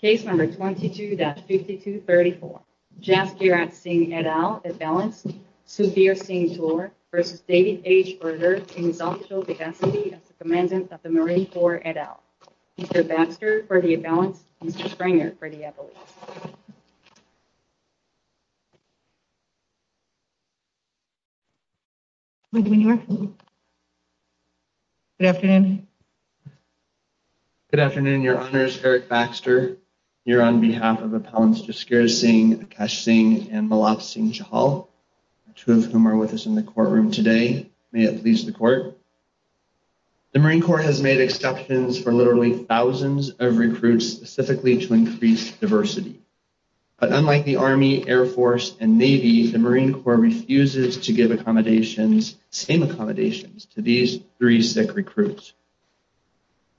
case number 22-5234. Jaskirat Singh et al. at balance, Sudhir Singh Tor v. David H. Berger in his official capacity as the Commandant of the Marine Corps et al. Mr. Baxter for the at-balance, Mr. Springer for the at-balance. Good afternoon. Good afternoon, Your Honors. Eric Baxter here on behalf of Appellants Jaskirat Singh, Akesh Singh, and Malav Singh Chahal, two of whom are with us in the courtroom today. May it please the court. The Marine Corps has made exceptions for literally thousands of recruits specifically to increase diversity. But unlike the Army, Air Force, and Navy, the Marine Corps refuses to give accommodations, same accommodations, to these three sick recruits.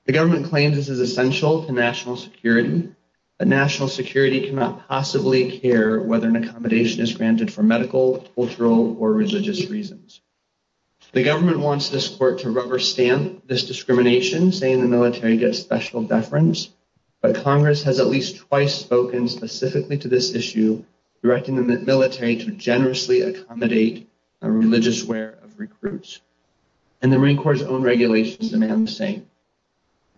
The government claims this is essential to national security, but national security cannot possibly care whether an accommodation is granted for medical, cultural, or religious reasons. The government wants this court to rubber stamp this discrimination, saying the military gets special deference, but Congress has at least twice spoken specifically to this issue, directing the military to generously accommodate a religious wear of recruits. And the Marine Corps' own regulations demand the same.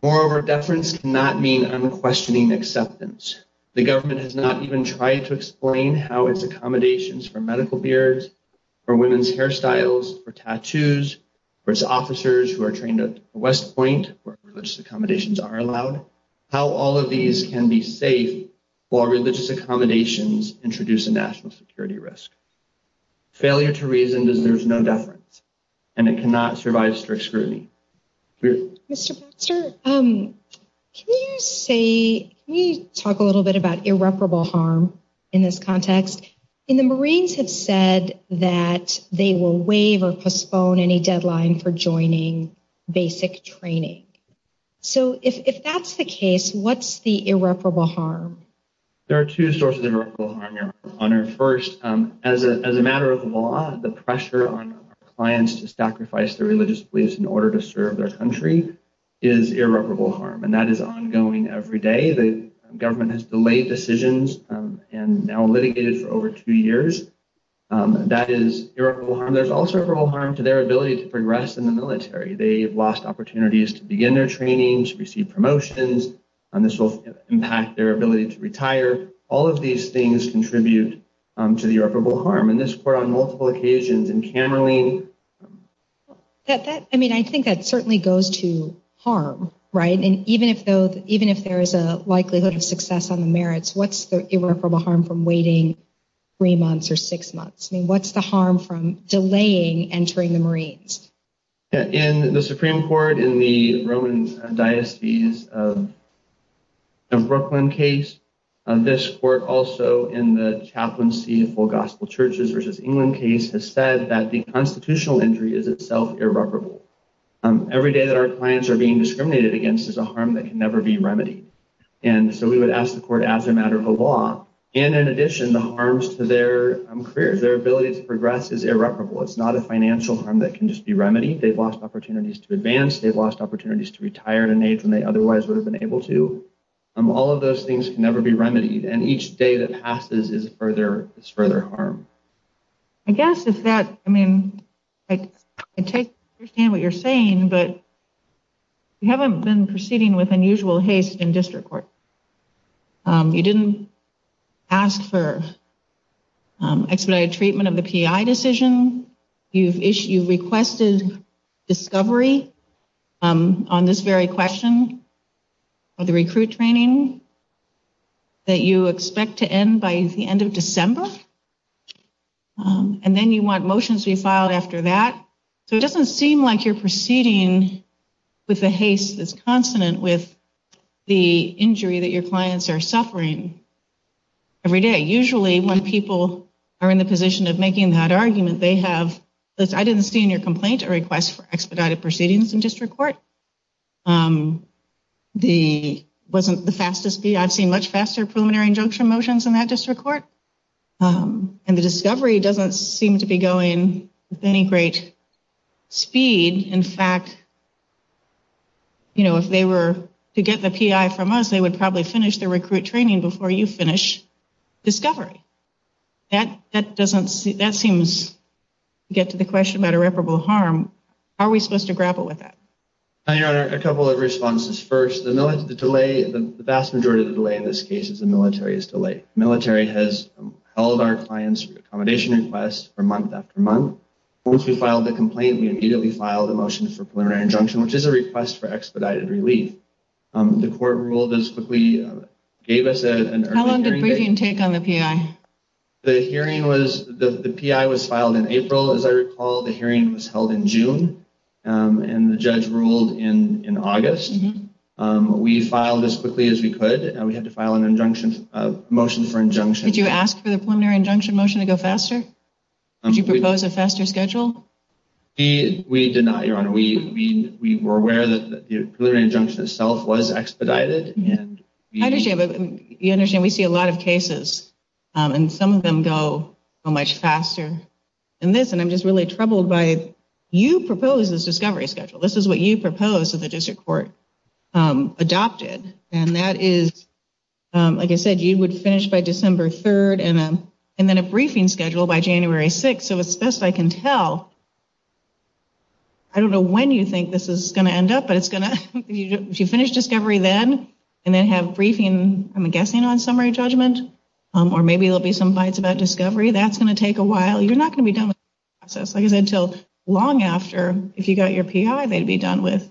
Moreover, deference cannot mean unquestioning acceptance. The government has not even tried to explain how its accommodations for medical beards, for women's hairstyles, for tattoos, for its officers who are trained at West Point, where religious accommodations are allowed, how all of these can be safe while religious accommodations introduce a national security risk. Failure to reason deserves no deference, and it cannot survive strict scrutiny. Mr. Baxter, can you talk a little bit about irreparable harm in this context? The Marines have said that they will waive or postpone any deadline for joining basic training. So if that's the case, what's the irreparable harm? There are two sources of irreparable harm, Your Honor. First, as a matter of law, the pressure on our clients to sacrifice their religious beliefs in order to serve their country is irreparable harm, and that is ongoing every day. The government has delayed decisions and now litigated for over two years. That is irreparable harm. There's also irreparable harm to their ability to progress in the military. They've lost opportunities to begin their training, to receive promotions, and this will impact their ability to retire. All of these things contribute to the irreparable harm. In this court, on multiple occasions, in Camerlyn... I mean, I think that certainly goes to harm, right? And even if there is a likelihood of success on the merits, what's the irreparable harm from waiting three months or six months? I mean, what's the harm from delaying entering the Marines? In the Supreme Court, in the Roman Diocese of Brooklyn case, this court also, in the Chaplaincy of Full Gospel Churches v. England case, has said that the constitutional injury is itself irreparable. Every day that our clients are being discriminated against is a harm that can never be remedied. And so we would ask the court, as a matter of law, and in addition, the harms to their careers, their ability to progress, is irreparable. It's not a financial harm that can just be remedied. They've lost opportunities to advance. They've lost opportunities to retire at an age when they otherwise would have been able to. All of those things can never be remedied, and each day that passes is further harm. I guess if that... I mean, I understand what you're saying, but you haven't been proceeding with unusual haste in district court. You didn't ask for expedited treatment of the PI decision. You've requested discovery on this very question of the recruit training that you expect to end by the end of December, and then you want motions to be filed after that. So it doesn't seem like you're proceeding with a haste that's consonant with the injury that your clients are suffering every day. Usually when people are in the position of making that argument, they have... I didn't see in your complaint a request for expedited proceedings in district court. It wasn't the fastest... I've seen much faster preliminary injunction motions in that district court. And the discovery doesn't seem to be going with any great speed. In fact, if they were to get the PI from us, they would probably finish the recruit training before you finish discovery. That seems to get to the question about irreparable harm. How are we supposed to grapple with that? Your Honor, a couple of responses. First, the vast majority of the delay in this case is the military's delay. Military has held our clients' accommodation requests for month after month. Once we filed the complaint, we immediately filed a motion for preliminary injunction, which is a request for expedited relief. The court ruled as quickly... gave us an early hearing date. How long did briefing take on the PI? The hearing was... the PI was filed in April, as I recall. The hearing was held in June, and the judge ruled in August. We filed as quickly as we could, and we had to file a motion for injunction. Did you ask for the preliminary injunction motion to go faster? Did you propose a faster schedule? We did not, Your Honor. We were aware that the preliminary injunction itself was expedited. I understand, but we see a lot of cases, and some of them go so much faster than this. And I'm just really troubled by... you proposed this discovery schedule. This is what you proposed that the district court adopted, and that is, like I said, you would finish by December 3rd and then a briefing schedule by January 6th. So as best I can tell, I don't know when you think this is going to end up, but it's going to... if you finish discovery then and then have briefing, I'm guessing, on summary judgment, or maybe there will be some bites about discovery, that's going to take a while. You're not going to be done with the process, like I said, until long after. If you got your PI, they'd be done with.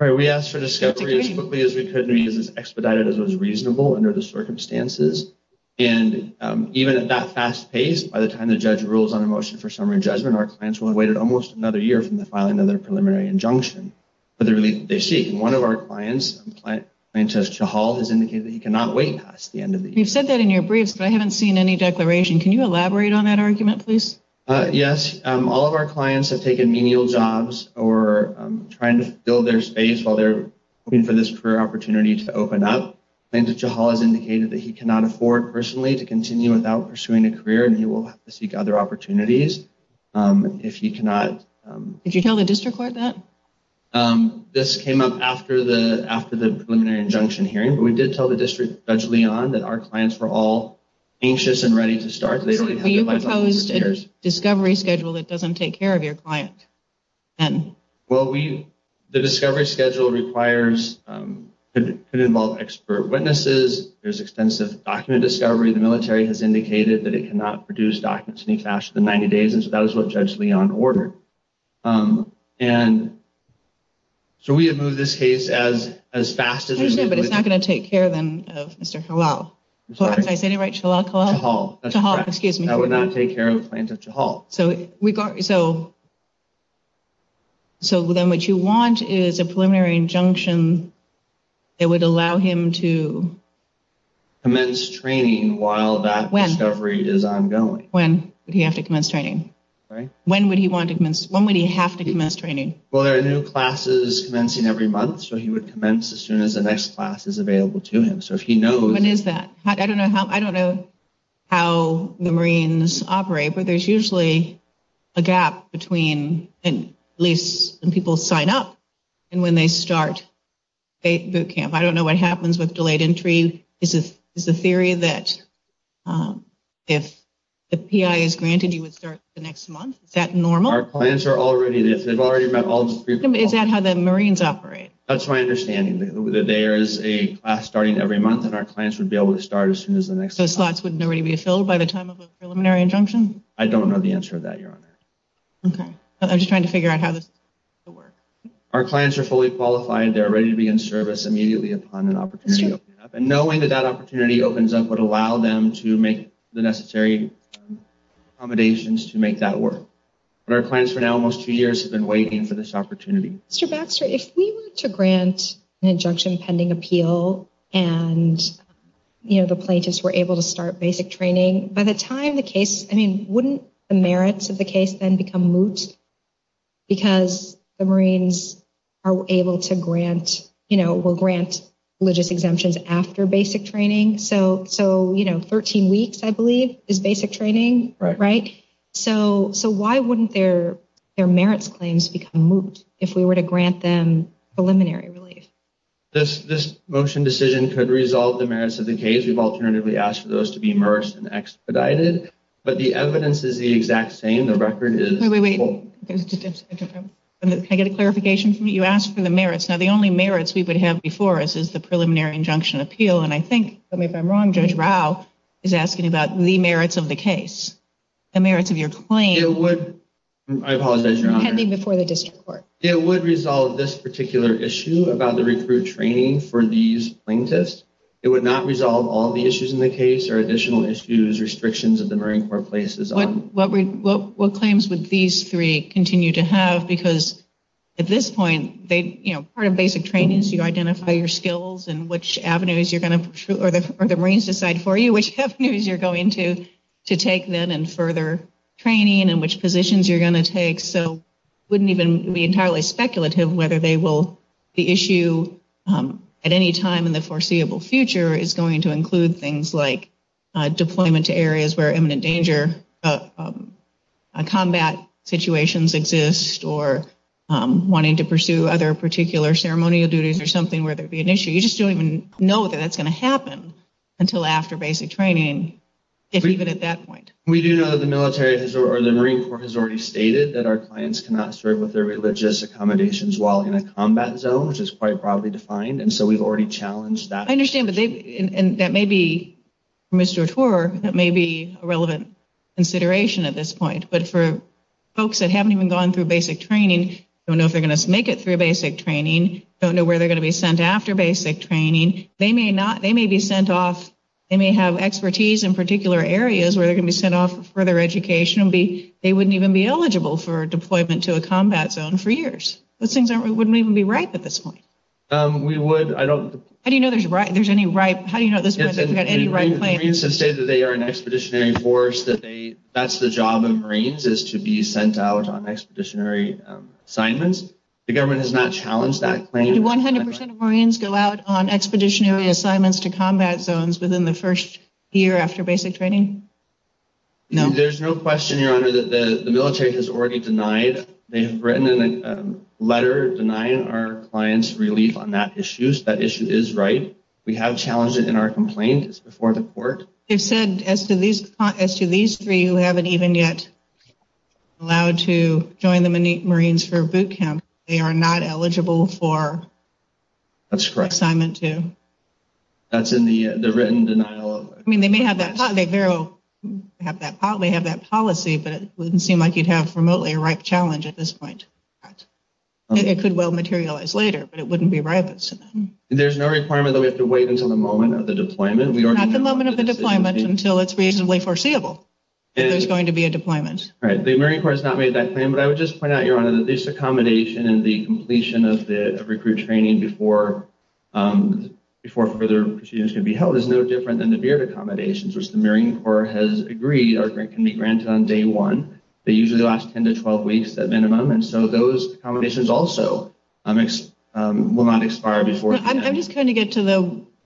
All right, we asked for discovery as quickly as we could and expedited it as was reasonable under the circumstances. And even at that fast pace, by the time the judge rules on a motion for summary judgment, our clients will have waited almost another year from the filing of their preliminary injunction for the relief that they seek. One of our clients, plaintiff Chahal, has indicated that he cannot wait past the end of the year. You've said that in your briefs, but I haven't seen any declaration. Can you elaborate on that argument, please? Yes. All of our clients have taken menial jobs or trying to fill their space while they're looking for this career opportunity to open up. Plaintiff Chahal has indicated that he cannot afford personally to continue without pursuing a career, and he will have to seek other opportunities if he cannot... Did you tell the district court that? This came up after the preliminary injunction hearing, but we did tell the district, Judge Leon, that our clients were all anxious and ready to start. You proposed a discovery schedule that doesn't take care of your client. Well, the discovery schedule could involve expert witnesses. There's extensive document discovery. The military has indicated that it cannot produce documents any faster than 90 days, and so that is what Judge Leon ordered. And so we have moved this case as fast as... I understand, but it's not going to take care, then, of Mr. Chahal. Did I say it right, Chahal? Chahal. Chahal, excuse me. That would not take care of Plaintiff Chahal. So then what you want is a preliminary injunction that would allow him to... Commence training while that discovery is ongoing. When would he have to commence training? Right. When would he have to commence training? Well, there are new classes commencing every month, so he would commence as soon as the next class is available to him. So if he knows... I don't know how the Marines operate, but there's usually a gap between at least when people sign up and when they start boot camp. I don't know what happens with delayed entry. Is the theory that if the PI is granted, you would start the next month? Is that normal? Our clients are already... Is that how the Marines operate? That's my understanding, that there is a class starting every month, and our clients would be able to start as soon as the next... So slots wouldn't already be filled by the time of a preliminary injunction? I don't know the answer to that, Your Honor. Okay. I'm just trying to figure out how this would work. Our clients are fully qualified. They're ready to be in service immediately upon an opportunity opening up, and knowing that that opportunity opens up would allow them to make the necessary accommodations to make that work. But our clients for now, almost two years, have been waiting for this opportunity. Mr. Baxter, if we were to grant an injunction pending appeal and the plaintiffs were able to start basic training, by the time the case... I mean, wouldn't the merits of the case then become moot because the Marines are able to grant... will grant religious exemptions after basic training? So 13 weeks, I believe, is basic training, right? So why wouldn't their merits claims become moot if we were to grant them preliminary relief? This motion decision could resolve the merits of the case. We've alternatively asked for those to be immersed and expedited, but the evidence is the exact same. The record is... Wait, wait, wait. Can I get a clarification from you? You asked for the merits. Now, the only merits we would have before us is the preliminary injunction appeal, and I think, if I'm wrong, Judge Rao is asking about the merits of the case. The merits of your claim... It would... I apologize, Your Honor. Pending before the district court. It would resolve this particular issue about the recruit training for these plaintiffs. It would not resolve all the issues in the case or additional issues, restrictions that the Marine Corps places on... What claims would these three continue to have? Because, at this point, part of basic training is you identify your skills and which avenues you're going to... Or the Marines decide for you which avenues you're going to take then in further training and which positions you're going to take. So it wouldn't even be entirely speculative whether the issue at any time in the foreseeable future is going to include things like deployment to areas where imminent danger combat situations exist or wanting to pursue other particular ceremonial duties or something where there would be an issue. You just don't even know that that's going to happen until after basic training, if even at that point. We do know that the Marine Corps has already stated that our clients cannot serve with their religious accommodations while in a combat zone, which is quite broadly defined, and so we've already challenged that. I understand, but that may be, Mr. Attor, that may be a relevant consideration at this point. But for folks that haven't even gone through basic training, don't know if they're going to make it through basic training, don't know where they're going to be sent after basic training, they may be sent off... They may have expertise in particular areas where they're going to be sent off for further education and they wouldn't even be eligible for deployment to a combat zone for years. Those things wouldn't even be ripe at this point. We would, I don't... How do you know there's any ripe, how do you know at this point they've got any ripe claim? Marines have stated that they are an expeditionary force, that they, that's the job of Marines, is to be sent out on expeditionary assignments. The government has not challenged that claim. Do 100% of Marines go out on expeditionary assignments to combat zones within the first year after basic training? No. There's no question, Your Honor, that the military has already denied, they have written in a letter denying our clients relief on that issue. That issue is ripe. We have challenged it in our complaint. It's before the court. They've said as to these three who haven't even yet allowed to join the Marines for boot camp, they are not eligible for... That's correct. ...assignment two. That's in the written denial of... I mean, they may have that policy, but it wouldn't seem like you'd have remotely a ripe challenge at this point. It could well materialize later, but it wouldn't be ripe. There's no requirement that we have to wait until the moment of the deployment. Not the moment of the deployment until it's reasonably foreseeable that there's going to be a deployment. The Marine Corps has not made that claim, but I would just point out, Your Honor, that this accommodation and the completion of the recruit training before further proceedings can be held as no different than the BEARD accommodations, which the Marine Corps has agreed can be granted on day one. They usually last 10 to 12 weeks at minimum, and so those accommodations also will not expire before then. I'm just trying to get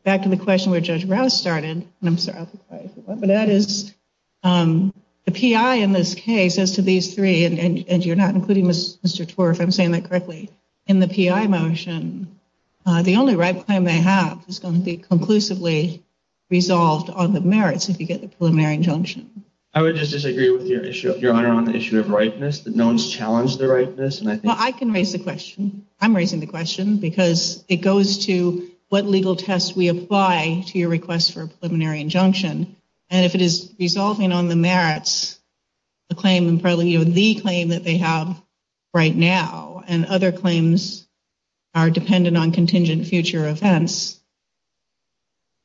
back to the question where Judge Rouse started. I'm sorry. I'll be quiet for a moment. The PI in this case, as to these three, and you're not including Mr. Torf, if I'm saying that correctly, in the PI motion, the only right claim they have is going to be conclusively resolved on the merits if you get the preliminary injunction. I would just disagree with Your Honor on the issue of ripeness, that no one's challenged the ripeness. Well, I can raise the question. I'm raising the question because it goes to what legal test we apply to your request for a preliminary injunction, and if it is resolving on the merits, the claim that they have right now and other claims are dependent on contingent future events,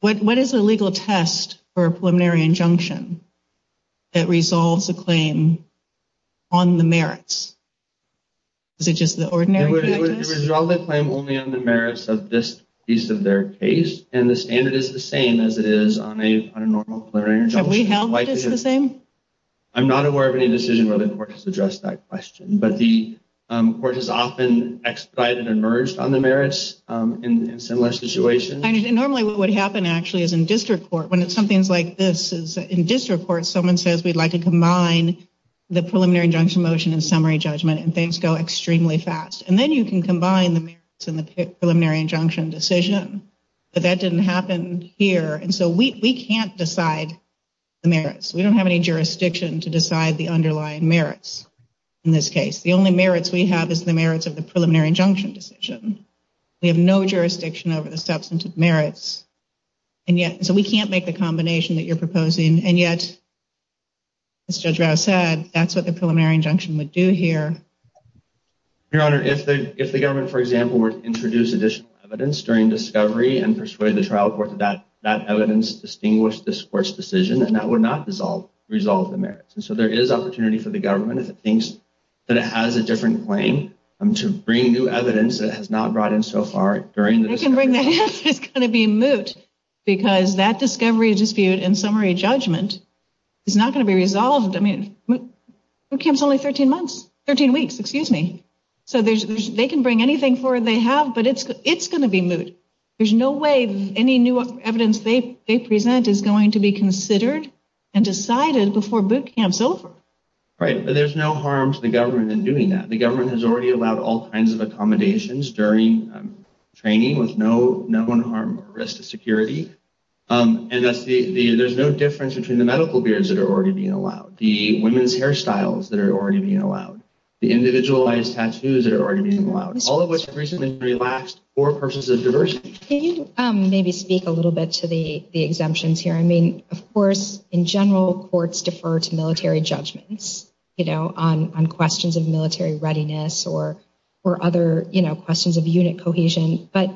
what is the legal test for a preliminary injunction that resolves a claim on the merits? Is it just the ordinary PI test? It would resolve the claim only on the merits of this piece of their case, and the standard is the same as it is on a normal preliminary injunction. Have we held it as the same? I'm not aware of any decision where the court has addressed that question, but the court has often expedited and merged on the merits in similar situations. Normally what would happen actually is in district court, when something's like this, in district court someone says we'd like to combine the preliminary injunction motion and summary judgment, and things go extremely fast, and then you can combine the merits and the preliminary injunction decision, but that didn't happen here, and so we can't decide the merits. We don't have any jurisdiction to decide the underlying merits in this case. The only merits we have is the merits of the preliminary injunction decision. We have no jurisdiction over the substantive merits, and yet so we can't make the combination that you're proposing, and yet as Judge Rao said, that's what the preliminary injunction would do here. Your Honor, if the government, for example, were to introduce additional evidence during discovery and persuade the trial court that that evidence distinguished this court's decision, then that would not resolve the merits. And so there is opportunity for the government, if it thinks that it has a different claim, to bring new evidence that has not brought in so far during the discovery. They can bring that in if it's going to be moot, because that discovery dispute and summary judgment is not going to be resolved. I mean, boot camp's only 13 months, 13 weeks, excuse me. So they can bring anything forward they have, but it's going to be moot. There's no way any new evidence they present is going to be considered and decided before boot camp's over. Right, but there's no harm to the government in doing that. The government has already allowed all kinds of accommodations during training with no known harm or risk to security, and there's no difference between the medical beards that are already being allowed, the women's hairstyles that are already being allowed, the individualized tattoos that are already being allowed, all of which have recently been relaxed for purposes of diversity. Can you maybe speak a little bit to the exemptions here? I mean, of course, in general, courts defer to military judgments, you know, on questions of military readiness or other, you know, questions of unit cohesion. But,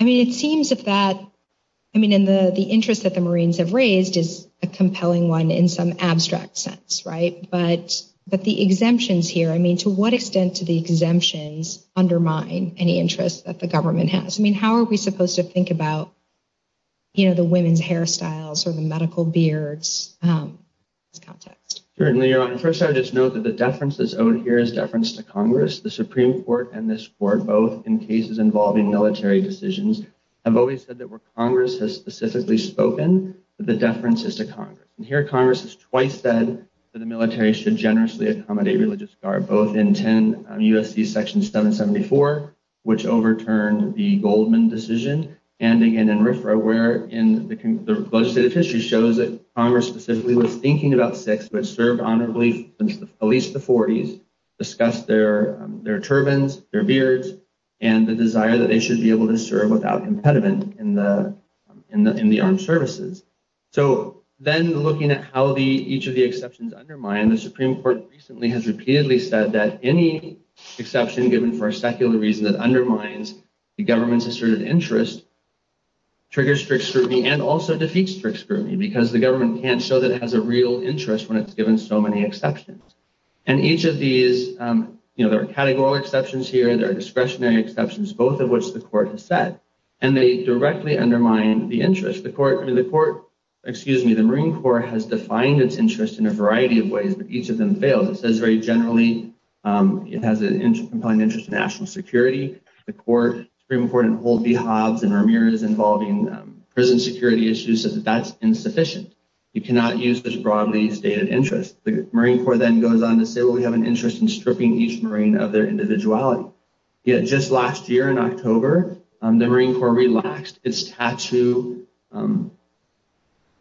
I mean, it seems that that, I mean, the interest that the Marines have raised is a compelling one in some abstract sense, right? But the exemptions here, I mean, to what extent do the exemptions undermine any interest that the government has? I mean, how are we supposed to think about, you know, the women's hairstyles or the medical beards in this context? Certainly, Your Honor. First, I would just note that the deference that's owed here is deference to Congress. The Supreme Court and this Court, both in cases involving military decisions, have always said that where Congress has specifically spoken, that the deference is to Congress. And here Congress has twice said that the military should generously accommodate religious guard, both in 10 U.S.C. Section 774, which overturned the Goldman decision, and again in RFRA, where the legislative history shows that Congress specifically was thinking about Sikhs who had served honorably since at least the 40s, discussed their turbans, their beards, and the desire that they should be able to serve without impediment in the armed services. So then looking at how each of the exceptions undermine, the Supreme Court recently has repeatedly said that any exception given for a secular reason that undermines the government's asserted interest triggers strict scrutiny and also defeats strict scrutiny because the government can't show that it has a real interest when it's given so many exceptions. And each of these, you know, there are categorical exceptions here, there are discretionary exceptions, both of which the Court has said, and they directly undermine the interest. The Court, excuse me, the Marine Corps has defined its interest in a variety of ways, but each of them fails. It says very generally it has a compelling interest in national security. The Supreme Court in Hold B. Hobbs and Ramirez involving prison security issues says that that's insufficient. You cannot use this broadly stated interest. The Marine Corps then goes on to say, well, we have an interest in stripping each Marine of their individuality. Just last year in October, the Marine Corps relaxed its tattoo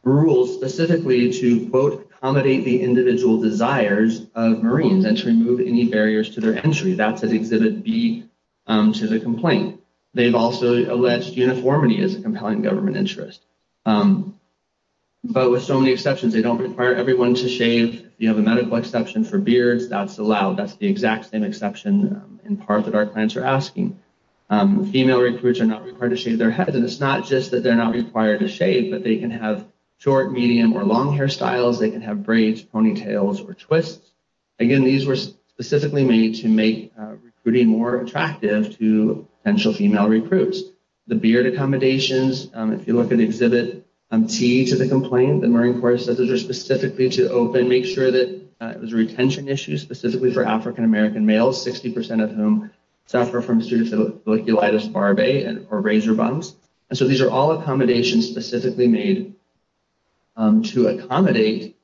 rules specifically to, quote, accommodate the individual desires of Marines and to remove any barriers to their entry. That's at Exhibit B to the complaint. They've also alleged uniformity is a compelling government interest. But with so many exceptions, they don't require everyone to shave. You have a medical exception for beards, that's allowed. That's the exact same exception in part that our clients are asking. Female recruits are not required to shave their head, and it's not just that they're not required to shave, but they can have short, medium, or long hairstyles. They can have braids, ponytails, or twists. Again, these were specifically made to make recruiting more attractive to potential female recruits. The beard accommodations, if you look at Exhibit T to the complaint, the Marine Corps says those are specifically to open, make sure that it was a retention issue specifically for African-American males, 60% of whom suffer from pseudophiliculitis barbae or razor bums. And so these are all accommodations specifically made to accommodate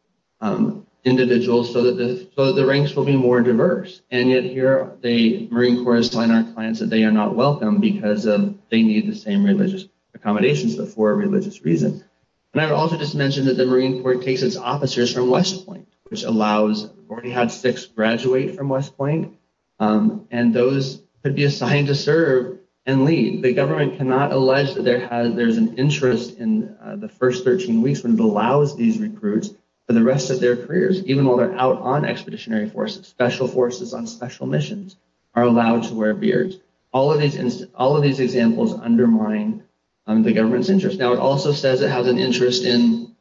individuals so that the ranks will be more diverse. And yet here the Marine Corps is telling our clients that they are not welcome because they need the same religious accommodations but for a religious reason. And I would also just mention that the Marine Corps takes its officers from West Point, which allows, we already had six graduate from West Point, and those could be assigned to serve and lead. The government cannot allege that there's an interest in the first 13 weeks when it allows these recruits for the rest of their careers, even while they're out on expeditionary forces, special forces on special missions, are allowed to wear beards. All of these examples undermine the government's interest. Now it also says it has an interest in,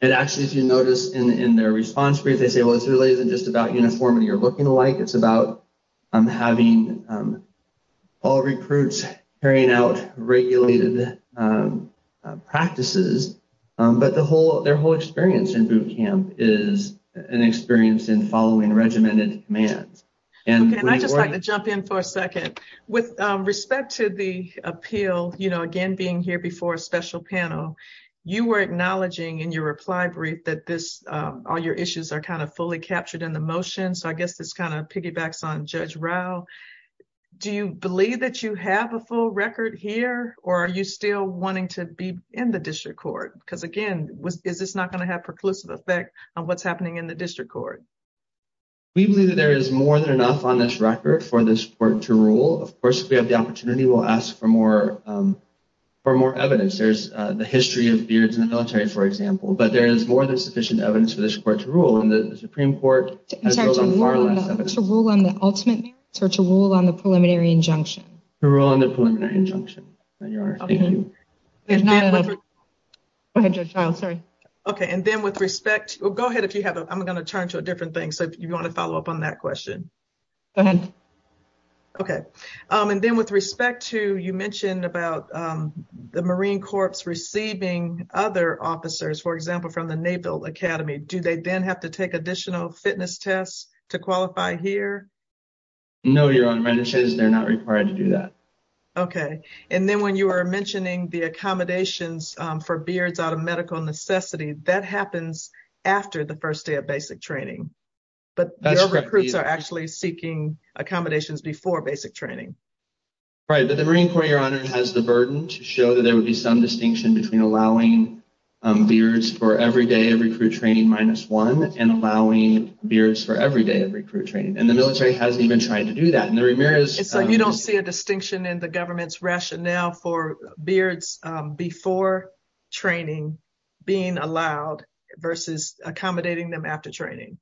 and actually if you notice in their response brief, they say, well, it's really isn't just about uniformity or looking alike. It's about having all recruits carrying out regulated practices. But their whole experience in boot camp is an experience in following regimented commands. Okay, and I'd just like to jump in for a second. With respect to the appeal, you know, again, being here before a special panel, you were acknowledging in your reply brief that this all your issues are kind of fully captured in the motion. So I guess this kind of piggybacks on Judge Rao. Do you believe that you have a full record here or are you still wanting to be in the district court? Because, again, is this not going to have preclusive effect on what's happening in the district court? We believe that there is more than enough on this record for this court to rule. Of course, if we have the opportunity, we'll ask for more evidence. There's the history of beards in the military, for example. But there is more than sufficient evidence for this court to rule. And the Supreme Court has far less evidence. To rule on the ultimate merits or to rule on the preliminary injunction? To rule on the preliminary injunction, Your Honor. Thank you. Go ahead, Judge Rao. Sorry. Okay. And then with respect. Well, go ahead if you have. I'm going to turn to a different thing. So if you want to follow up on that question. Okay. And then with respect to you mentioned about the Marine Corps receiving other officers, for example, from the Naval Academy. Do they then have to take additional fitness tests to qualify here? No, Your Honor. They're not required to do that. Okay. And then when you were mentioning the accommodations for beards out of medical necessity, that happens after the first day of basic training. But your recruits are actually seeking accommodations before basic training. Right. But the Marine Corps, Your Honor, has the burden to show that there would be some distinction between allowing beards for every day of recruit training minus one and allowing beards for every day of recruit training. And the military hasn't even tried to do that. You don't see a distinction in the government's rationale for beards before training being allowed versus accommodating them after training.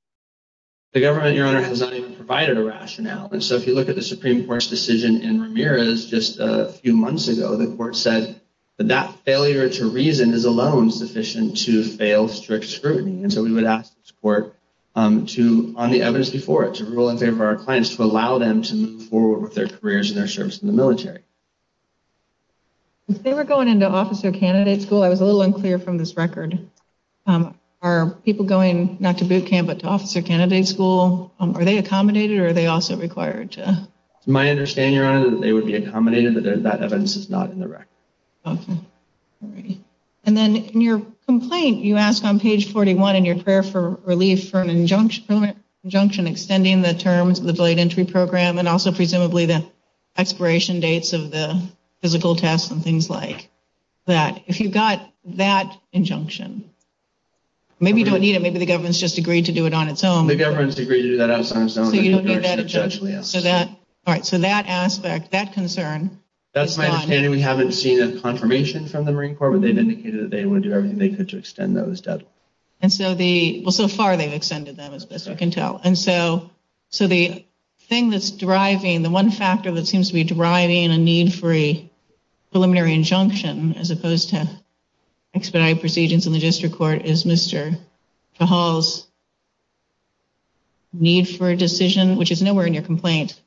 The government, Your Honor, has not even provided a rationale. And so if you look at the Supreme Court's decision in Ramirez just a few months ago, the court said that that failure to reason is alone sufficient to fail strict scrutiny. And so we would ask the court to, on the evidence before it, to rule in favor of our clients to allow them to move forward with their careers and their service in the military. If they were going into officer candidate school, I was a little unclear from this record, are people going not to boot camp but to officer candidate school, are they accommodated or are they also required to? To my understanding, Your Honor, that they would be accommodated, but that evidence is not in the record. Okay. All right. And then in your complaint, you ask on page 41 in your prayer for relief for an injunction extending the terms of the delayed entry program and also presumably the expiration dates of the physical tests and things like that. If you got that injunction, maybe you don't need it. Maybe the government's just agreed to do it on its own. The government's agreed to do that on its own. So you don't need that injunction. All right. So that aspect, that concern. That's my understanding. We haven't seen a confirmation from the Marine Corps, but they've indicated that they would do everything they could to extend those deadlines. And so the, well, so far they've extended them as best we can tell. And so the thing that's driving, the one factor that seems to be driving a need for a preliminary injunction as opposed to expedited procedures in the district court is Mr. Fajal's need for a decision, which is nowhere in your complaint.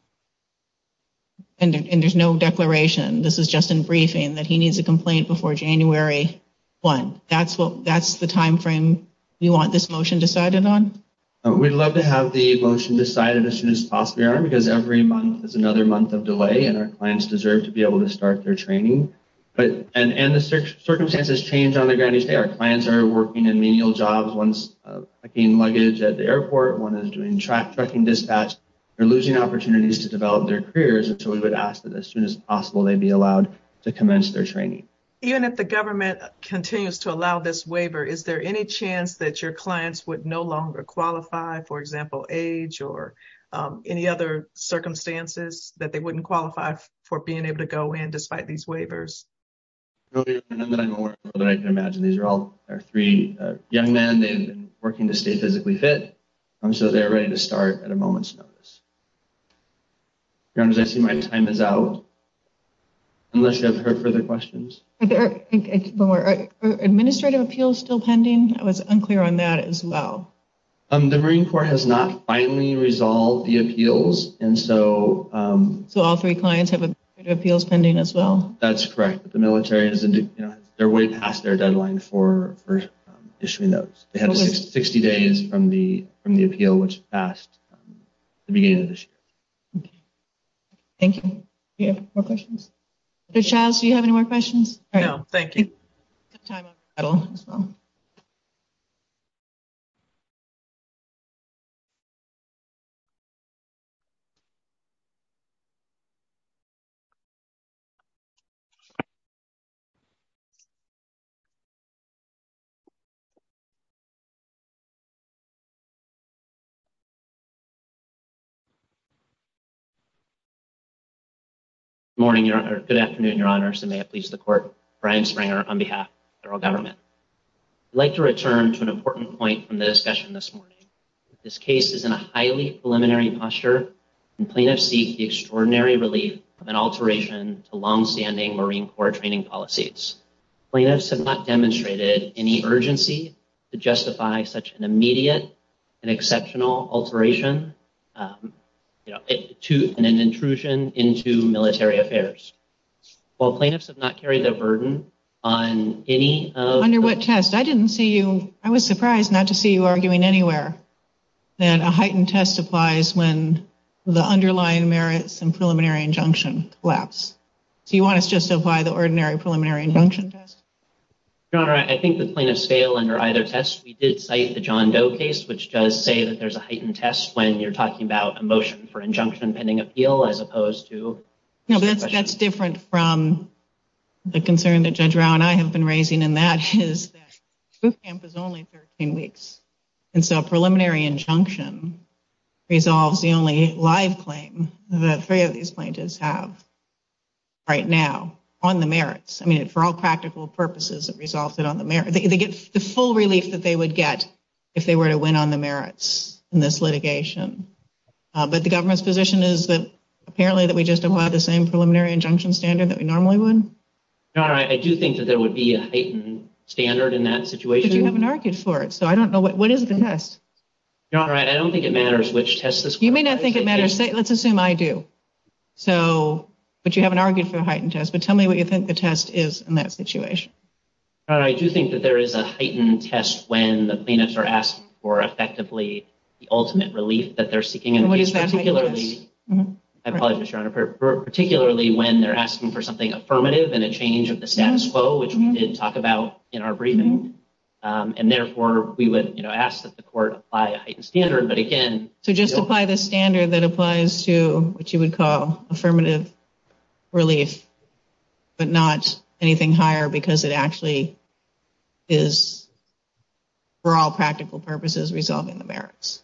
And there's no declaration. This is just in briefing that he needs a complaint before January 1. That's what, that's the timeframe you want this motion decided on? We'd love to have the motion decided as soon as possible because every month is another month of delay and our clients deserve to be able to start their training. But, and the circumstances change on the ground each day. Our clients are working in menial jobs. One's packing luggage at the airport. One is doing trucking dispatch. They're losing opportunities to develop their careers. And so we would ask that as soon as possible they be allowed to commence their training. Even if the government continues to allow this waiver, is there any chance that your clients would no longer qualify, for example, age or any other circumstances that they wouldn't qualify for being able to go in despite these waivers? None that I can imagine. These are all our three young men. They've been working to stay physically fit. So they're ready to start at a moment's notice. I see my time is out. Unless you have further questions. Are administrative appeals still pending? I was unclear on that as well. The Marine Corps has not finally resolved the appeals. And so. So all three clients have appeals pending as well? That's correct. The military is, you know, they're way past their deadline for issuing those. They have 60 days from the from the appeal which passed the beginning of this year. Thank you. More questions. Charles, do you have any more questions? Thank you. I don't. Morning. Good afternoon, Your Honor. Brian Springer on behalf of the federal government. I'd like to return to an important point from the discussion this morning. This case is in a highly preliminary posture and plaintiffs seek the extraordinary relief of an alteration to longstanding Marine Corps training policies. Plaintiffs have not demonstrated any urgency to justify such an immediate and exceptional alteration to an intrusion into military affairs. While plaintiffs have not carried the burden on any of. Under what test? I didn't see you. I was surprised not to see you arguing anywhere that a heightened test applies when the underlying merits and preliminary injunction lapse. Do you want to justify the ordinary preliminary injunction test? I think the plaintiffs fail under either test. We did cite the John Doe case, which does say that there's a heightened test when you're talking about a motion for injunction pending appeal as opposed to. No, that's that's different from the concern that Judge Brown. I have been raising in that his camp is only 13 weeks. And so a preliminary injunction resolves the only live claim. The three of these plaintiffs have right now on the merits. I mean, for all practical purposes, it resulted on the mayor. They get the full relief that they would get if they were to win on the merits in this litigation. But the government's position is that apparently that we just apply the same preliminary injunction standard that we normally would. All right. I do think that there would be a heightened standard in that situation. You haven't argued for it. So I don't know what is the best. All right. I don't think it matters which test this you may not think it matters. Let's assume I do. So but you haven't argued for a heightened test. But tell me what you think the test is in that situation. I do think that there is a heightened test when the plaintiffs are asked for effectively the ultimate relief that they're seeking. And what is that? Particularly when they're asking for something affirmative and a change of the status quo, which we did talk about in our briefing. And therefore, we would ask that the court apply a standard. So just apply the standard that applies to what you would call affirmative relief, but not anything higher because it actually is. For all practical purposes, resolving the merits.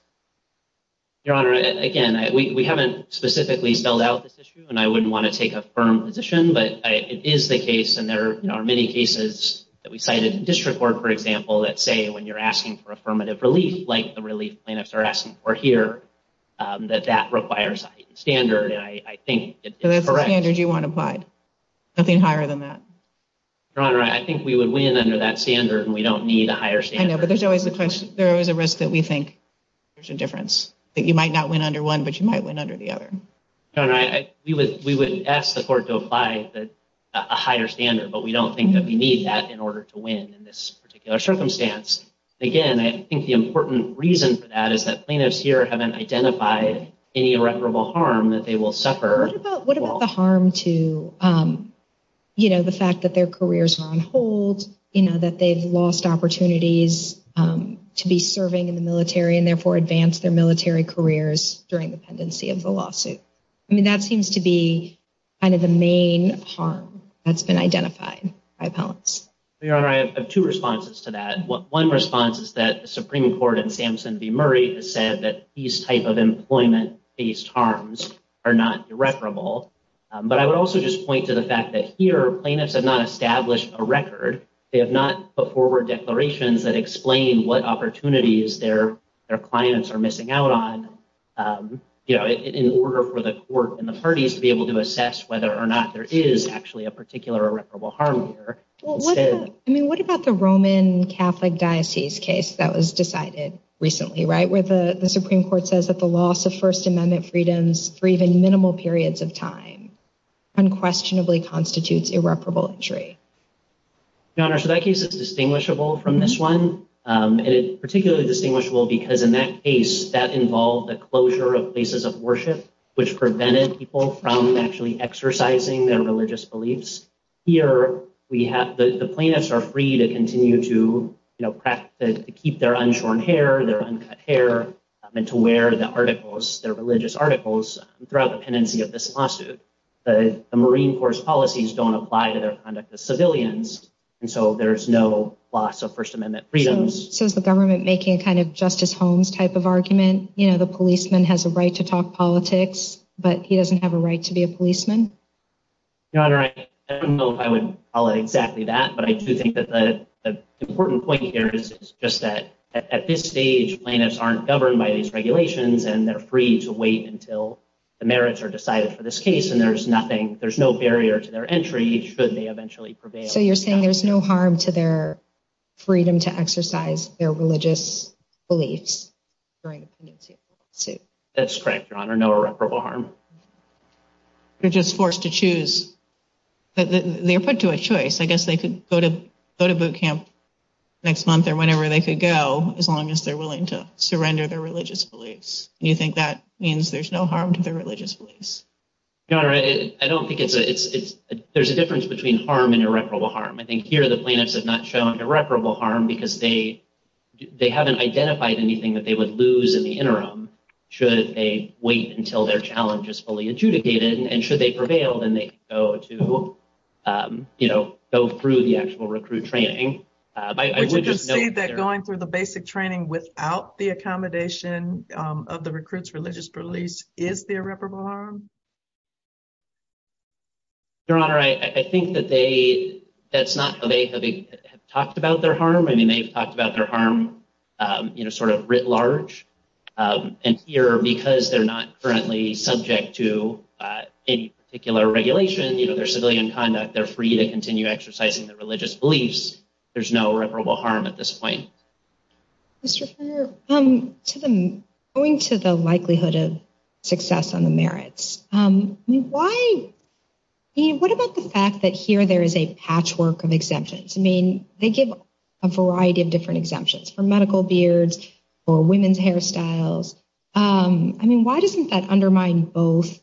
Your Honor, again, we haven't specifically spelled out this issue and I wouldn't want to take a firm position, but it is the case. And there are many cases that we cited in district court, for example, that say when you're asking for affirmative relief, like the relief plaintiffs are asking for here, that that requires a standard. I think that's the standard you want applied. Nothing higher than that. Your Honor, I think we would win under that standard and we don't need a higher standard. I know, but there's always a question. There is a risk that we think there's a difference that you might not win under one, but you might win under the other. Your Honor, we would ask the court to apply a higher standard, but we don't think that we need that in order to win in this particular circumstance. Again, I think the important reason for that is that plaintiffs here haven't identified any irreparable harm that they will suffer. What about the harm to, you know, the fact that their careers are on hold, you know, that they've lost opportunities to be serving in the military and therefore advance their military careers during the pendency of the lawsuit? I mean, that seems to be kind of the main harm that's been identified by appellants. Your Honor, I have two responses to that. One response is that the Supreme Court in Sampson v. Murray has said that these type of employment-based harms are not irreparable. But I would also just point to the fact that here, plaintiffs have not established a record. They have not put forward declarations that explain what opportunities their clients are missing out on, you know, in order for the court and the parties to be able to assess whether or not there is actually a particular irreparable harm here. I mean, what about the Roman Catholic Diocese case that was decided recently, right, where the Supreme Court says that the loss of First Amendment freedoms for even minimal periods of time unquestionably constitutes irreparable injury? Your Honor, so that case is distinguishable from this one. And it's particularly distinguishable because in that case, that involved the closure of places of worship, which prevented people from actually exercising their religious beliefs. Here, the plaintiffs are free to continue to keep their unshorn hair, their uncut hair, and to wear their religious articles throughout the pendency of this lawsuit. The Marine Corps' policies don't apply to their conduct as civilians, and so there's no loss of First Amendment freedoms. So is the government making a kind of Justice Holmes type of argument? You know, the policeman has a right to talk politics, but he doesn't have a right to be a policeman? Your Honor, I don't know if I would call it exactly that, but I do think that the important point here is just that at this stage, plaintiffs aren't governed by these regulations, and they're free to wait until the merits are decided for this case. And there's nothing, there's no barrier to their entry should they eventually prevail. So you're saying there's no harm to their freedom to exercise their religious beliefs during the pendency of the lawsuit? That's correct, Your Honor, no irreparable harm. They're just forced to choose, they're put to a choice. I guess they could go to boot camp next month or whenever they could go, as long as they're willing to surrender their religious beliefs. And you think that means there's no harm to their religious beliefs? Your Honor, I don't think it's, there's a difference between harm and irreparable harm. I think here the plaintiffs have not shown irreparable harm because they haven't identified anything that they would lose in the interim should they wait until their challenge is fully adjudicated. And should they prevail, then they can go to, you know, go through the actual recruit training. But you can see that going through the basic training without the accommodation of the recruits religious beliefs is the irreparable harm? Your Honor, I think that they, that's not how they have talked about their harm. I mean, they've talked about their harm, you know, sort of writ large. And here, because they're not currently subject to any particular regulation, you know, their civilian conduct, they're free to continue exercising their religious beliefs. There's no irreparable harm at this point. Mr. Freer, going to the likelihood of success on the merits, why, I mean, what about the fact that here there is a patchwork of exemptions? I mean, they give a variety of different exemptions for medical beards or women's hairstyles. I mean, why doesn't that undermine both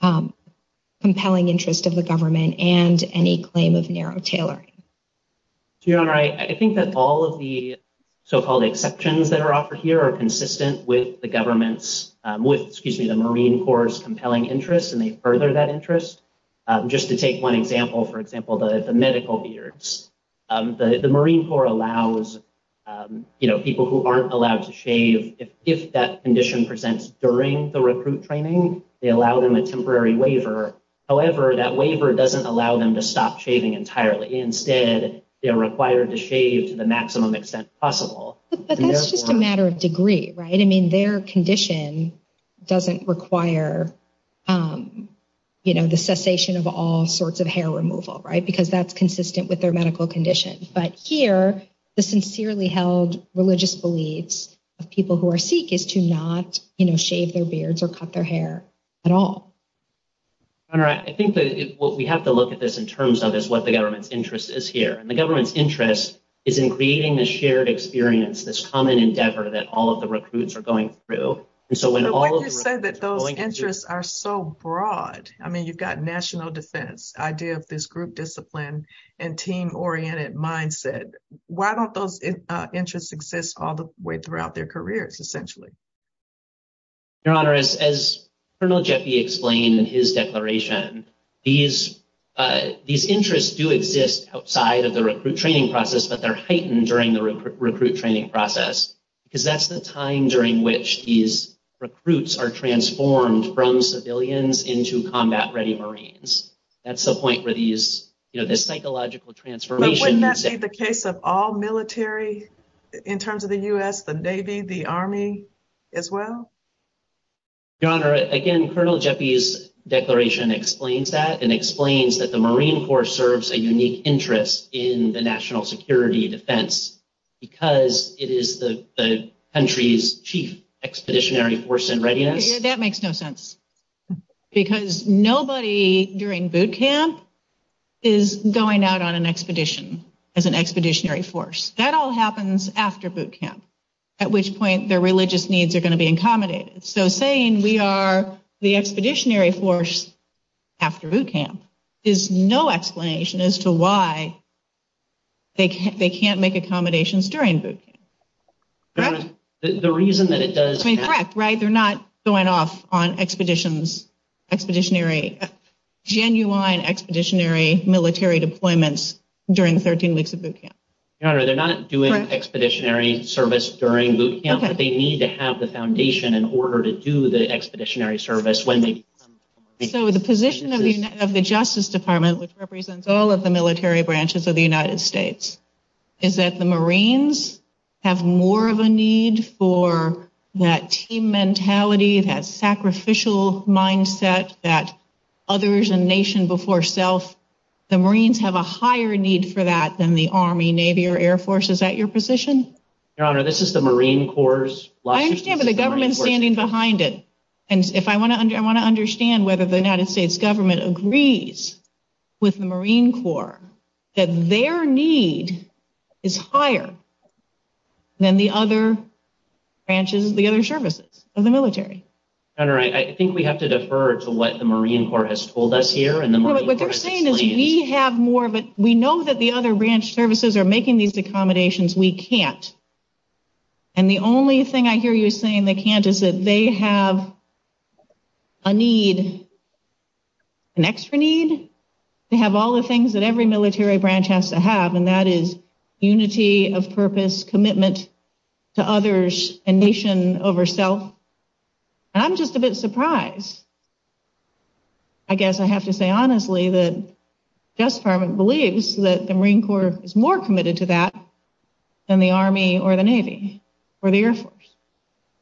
compelling interest of the government and any claim of narrow tailoring? Your Honor, I think that all of the so-called exceptions that are offered here are consistent with the government's, with, excuse me, the Marine Corps compelling interest. And they further that interest. Just to take one example, for example, the medical beards, the Marine Corps allows, you know, people who aren't allowed to shave. If that condition presents during the recruit training, they allow them a temporary waiver. However, that waiver doesn't allow them to stop shaving entirely. Instead, they are required to shave to the maximum extent possible. But that's just a matter of degree, right? I mean, their condition doesn't require, you know, the cessation of all sorts of hair removal, right? Because that's consistent with their medical condition. But here, the sincerely held religious beliefs of people who are Sikh is to not shave their beards or cut their hair at all. All right. I think that what we have to look at this in terms of is what the government's interest is here. And the government's interest is in creating this shared experience, this common endeavor that all of the recruits are going through. So when all of you say that those interests are so broad, I mean, you've got national defense idea of this group discipline and team oriented mindset. Why don't those interests exist all the way throughout their careers, essentially? Your Honor, as Colonel Jeffy explained in his declaration, these interests do exist outside of the recruit training process, but they're heightened during the recruit training process because that's the time during which these recruits are transformed from civilians into combat ready Marines. That's the point where these, you know, this psychological transformation. The case of all military in terms of the US, the Navy, the Army as well. Your Honor, again, Colonel Jeffy's declaration explains that and explains that the Marine Corps serves a unique interest in the national security defense because it is the country's chief expeditionary force and readiness. That makes no sense because nobody during boot camp is going out on an expedition as an expeditionary force. That all happens after boot camp, at which point their religious needs are going to be accommodated. So saying we are the expeditionary force after boot camp is no explanation as to why. They can't make accommodations during boot camp. The reason that it does. Correct. Right. They're not going off on expeditions, expeditionary, genuine expeditionary military deployments during 13 weeks of boot camp. Your Honor, they're not doing expeditionary service during boot camp. They need to have the foundation in order to do the expeditionary service when they. So the position of the Justice Department, which represents all of the military branches of the United States, is that the Marines have more of a need for that team mentality, that sacrificial mindset, that others and nation before self. The Marines have a higher need for that than the Army, Navy or Air Force. Is that your position? Your Honor, this is the Marine Corps. I understand, but the government is standing behind it. And if I want to, I want to understand whether the United States government agrees with the Marine Corps that their need is higher than the other branches, the other services of the military. Your Honor, I think we have to defer to what the Marine Corps has told us here. What they're saying is we have more of it. We know that the other branch services are making these accommodations. We can't. And the only thing I hear you saying they can't is that they have a need. An extra need to have all the things that every military branch has to have, and that is unity of purpose, commitment to others and nation over self. And I'm just a bit surprised. I guess I have to say honestly that the Justice Department believes that the Marine Corps is more committed to that than the Army or the Navy or the Air Force.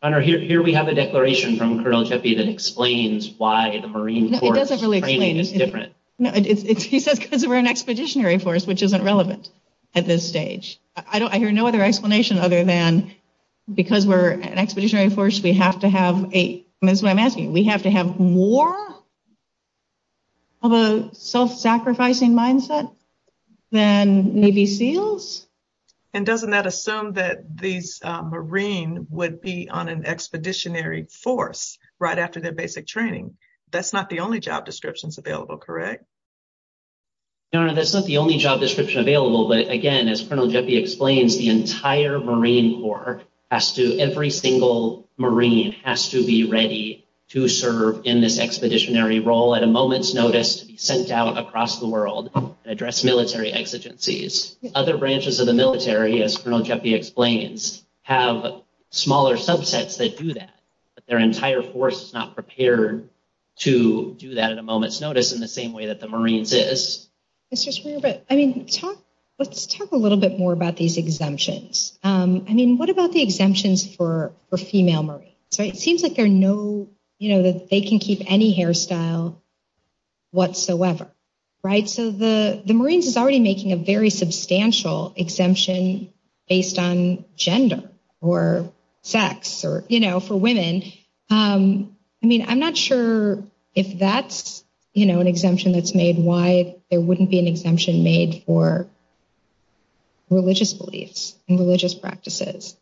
Your Honor, here we have a declaration from Colonel Jeppe that explains why the Marine Corps training is different. It doesn't really explain it. He says because we're an expeditionary force, which isn't relevant at this stage. I don't I hear no other explanation other than because we're an expeditionary force, we have to have a that's what I'm asking. We have to have more of a self-sacrificing mindset than Navy SEALs. And doesn't that assume that these Marine would be on an expeditionary force right after their basic training? That's not the only job descriptions available, correct? Your Honor, that's not the only job description available. But again, as Colonel Jeppe explains, the entire Marine Corps has to every single Marine has to be ready to serve in this expeditionary role at a moment's notice to be sent out across the world to address military exigencies. Other branches of the military, as Colonel Jeppe explains, have smaller subsets that do that. But their entire force is not prepared to do that at a moment's notice in the same way that the Marines is. Mr. Schreiber, I mean, let's talk a little bit more about these exemptions. I mean, what about the exemptions for female Marines? So it seems like there are no you know that they can keep any hairstyle whatsoever. Right. So the Marines is already making a very substantial exemption based on gender or sex or, you know, for women. I mean, I'm not sure if that's, you know, an exemption that's made. Why there wouldn't be an exemption made for religious beliefs and religious practices.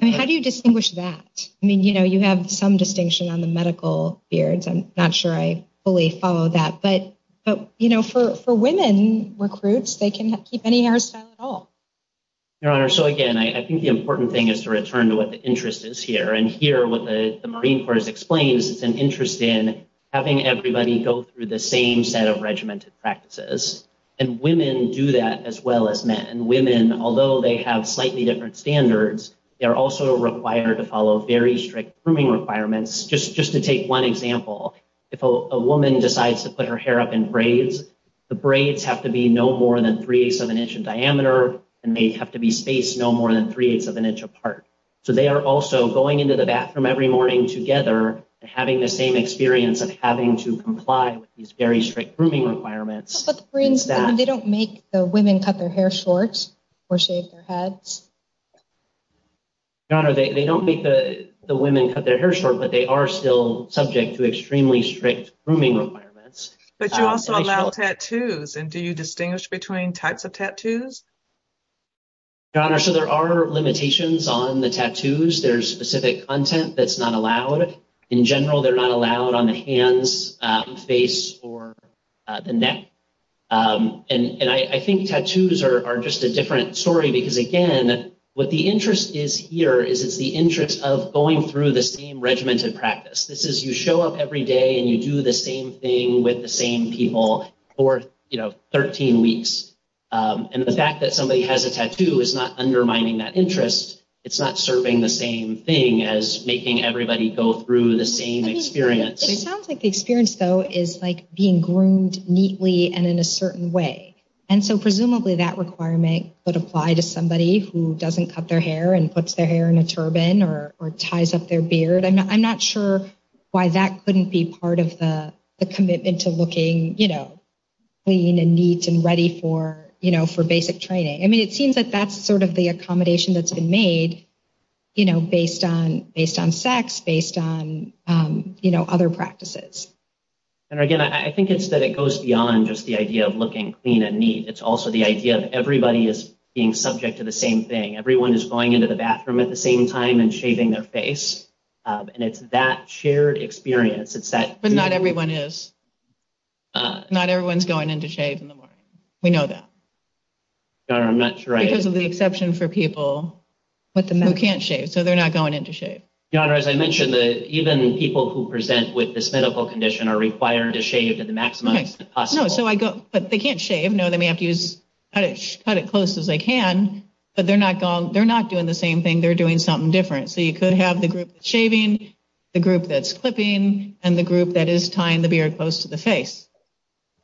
I mean, how do you distinguish that? I mean, you know, you have some distinction on the medical beards. I'm not sure I fully follow that. But but, you know, for for women recruits, they can keep any hairstyle at all. So, again, I think the important thing is to return to what the interest is here and hear what the Marine Corps explains. It's an interest in having everybody go through the same set of regimented practices. And women do that as well as men and women, although they have slightly different standards. They are also required to follow very strict grooming requirements. Just just to take one example, if a woman decides to put her hair up in braids, the braids have to be no more than three seven inch in diameter. And they have to be spaced no more than three eighths of an inch apart. So they are also going into the bathroom every morning together and having the same experience of having to comply with these very strict grooming requirements. They don't make the women cut their hair short or shave their heads. They don't make the women cut their hair short, but they are still subject to extremely strict grooming requirements. But you also allow tattoos. And do you distinguish between types of tattoos? Your Honor, so there are limitations on the tattoos. There's specific content that's not allowed in general. They're not allowed on the hands, face or the neck. And I think tattoos are just a different story because, again, what the interest is here is it's the interest of going through the same regimented practice. This is you show up every day and you do the same thing with the same people or, you know, 13 weeks. And the fact that somebody has a tattoo is not undermining that interest. It's not serving the same thing as making everybody go through the same experience. It sounds like the experience, though, is like being groomed neatly and in a certain way. And so presumably that requirement would apply to somebody who doesn't cut their hair and puts their hair in a turban or ties up their beard. I'm not sure why that couldn't be part of the commitment to looking, you know, clean and neat and ready for, you know, for basic training. I mean, it seems that that's sort of the accommodation that's been made, you know, based on based on sex, based on, you know, other practices. And again, I think it's that it goes beyond just the idea of looking clean and neat. It's also the idea of everybody is being subject to the same thing. Everyone is going into the bathroom at the same time and shaving their face. And it's that shared experience. It's that. But not everyone is. Not everyone's going in to shave in the morning. We know that. I'm not sure because of the exception for people who can't shave. So they're not going in to shave. Your Honor, as I mentioned, even people who present with this medical condition are required to shave to the maximum. So I go, but they can't shave. No, they may have to use it as close as they can. But they're not gone. They're not doing the same thing. They're doing something different. So you could have the group shaving the group that's clipping and the group that is tying the beard close to the face.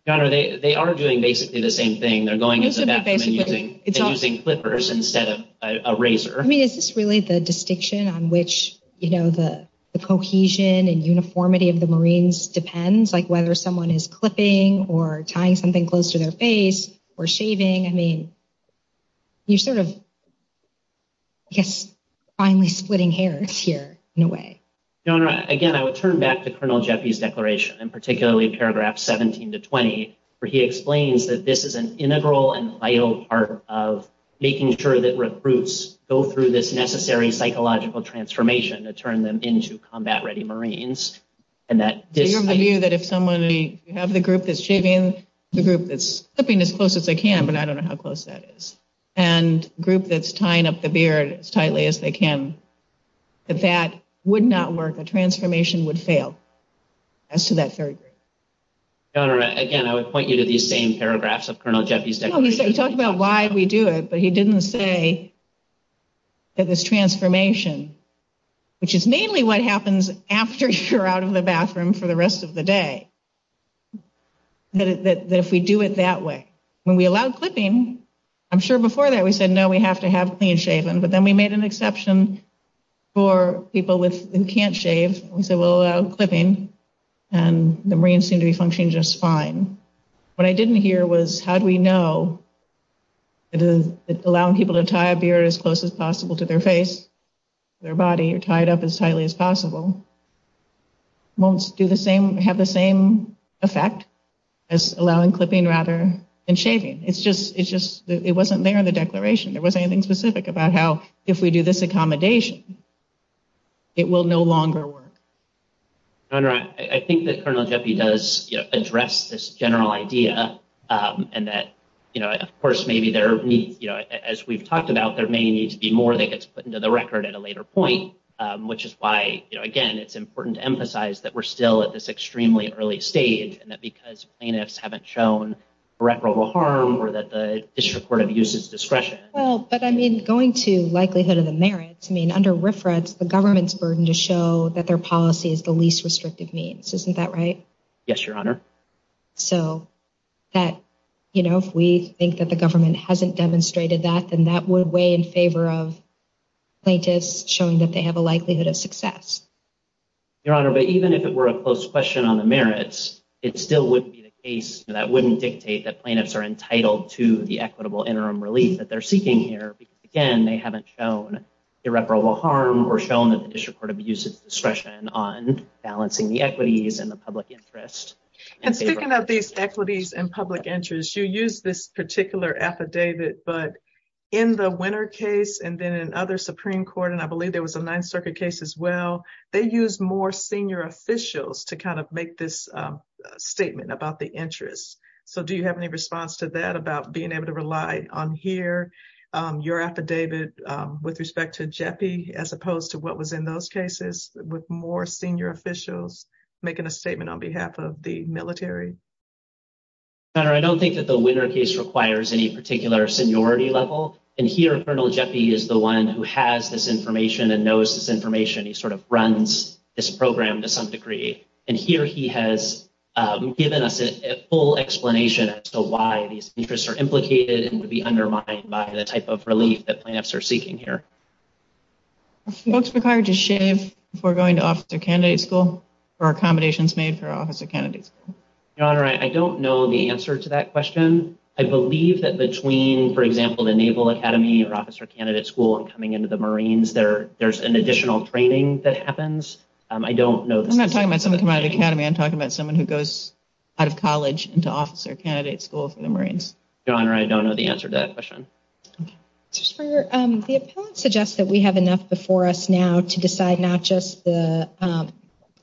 Your Honor, they are doing basically the same thing. They're going into the bathroom and using clippers instead of a razor. I mean, is this really the distinction on which, you know, the cohesion and uniformity of the Marines depends? Like whether someone is clipping or tying something close to their face or shaving? I mean, you're sort of, I guess, finally splitting hairs here in a way. Your Honor, again, I would turn back to Colonel Jeffy's declaration and particularly paragraph 17 to 20, where he explains that this is an integral and vital part of making sure that recruits go through this necessary psychological transformation to turn them into combat ready Marines. So you have the view that if someone, if you have the group that's shaving the group that's clipping as close as they can, but I don't know how close that is, and group that's tying up the beard as tightly as they can, that that would not work. The transformation would fail as to that third group. Your Honor, again, I would point you to these same paragraphs of Colonel Jeffy's declaration. I don't know, he talked about why we do it, but he didn't say that this transformation, which is mainly what happens after you're out of the bathroom for the rest of the day, that if we do it that way. When we allowed clipping, I'm sure before that we said no, we have to have clean shaven, but then we made an exception for people who can't shave. We said we'll allow clipping, and the Marines seemed to be functioning just fine. What I didn't hear was how do we know that allowing people to tie a beard as close as possible to their face, their body, or tie it up as tightly as possible, won't have the same effect as allowing clipping rather than shaving. It wasn't there in the declaration. There wasn't anything specific about how if we do this accommodation, it will no longer work. Your Honor, I think that Colonel Jeffy does address this general idea, and that, of course, as we've talked about, there may need to be more that gets put into the record at a later point, which is why, again, it's important to emphasize that we're still at this extremely early stage, and that because plaintiffs haven't shown reparable harm or that the district court have used its discretion. Well, but, I mean, going to likelihood of the merits, I mean, under RFRA, it's the government's burden to show that their policy is the least restrictive means. Isn't that right? Yes, Your Honor. So that, you know, if we think that the government hasn't demonstrated that, then that would weigh in favor of plaintiffs showing that they have a likelihood of success. Your Honor, but even if it were a close question on the merits, it still wouldn't be the case. That wouldn't dictate that plaintiffs are entitled to the equitable interim relief that they're seeking here. Again, they haven't shown irreparable harm or shown that the district court have used its discretion on balancing the equities and the public interest. And speaking of these equities and public interest, you use this particular affidavit, but in the Winner case and then in other Supreme Court, and I believe there was a Ninth Circuit case as well, they use more senior officials to kind of make this statement about the interests. So do you have any response to that about being able to rely on here, your affidavit, with respect to Jeppe, as opposed to what was in those cases, with more senior officials making a statement on behalf of the military? Your Honor, I don't think that the Winner case requires any particular seniority level. And here, Colonel Jeppe is the one who has this information and knows this information. He sort of runs this program to some degree. And here he has given us a full explanation as to why these interests are implicated and would be undermined by the type of relief that plaintiffs are seeking here. Are folks required to shave before going to officer candidate school or accommodations made for officer candidate school? Your Honor, I don't know the answer to that question. I believe that between, for example, the Naval Academy or officer candidate school and coming into the Marines, there's an additional training that happens. I don't know. I'm not talking about someone coming out of the Academy. I'm talking about someone who goes out of college into officer candidate school for the Marines. Your Honor, I don't know the answer to that question. Mr. Springer, the appellant suggests that we have enough before us now to decide not just the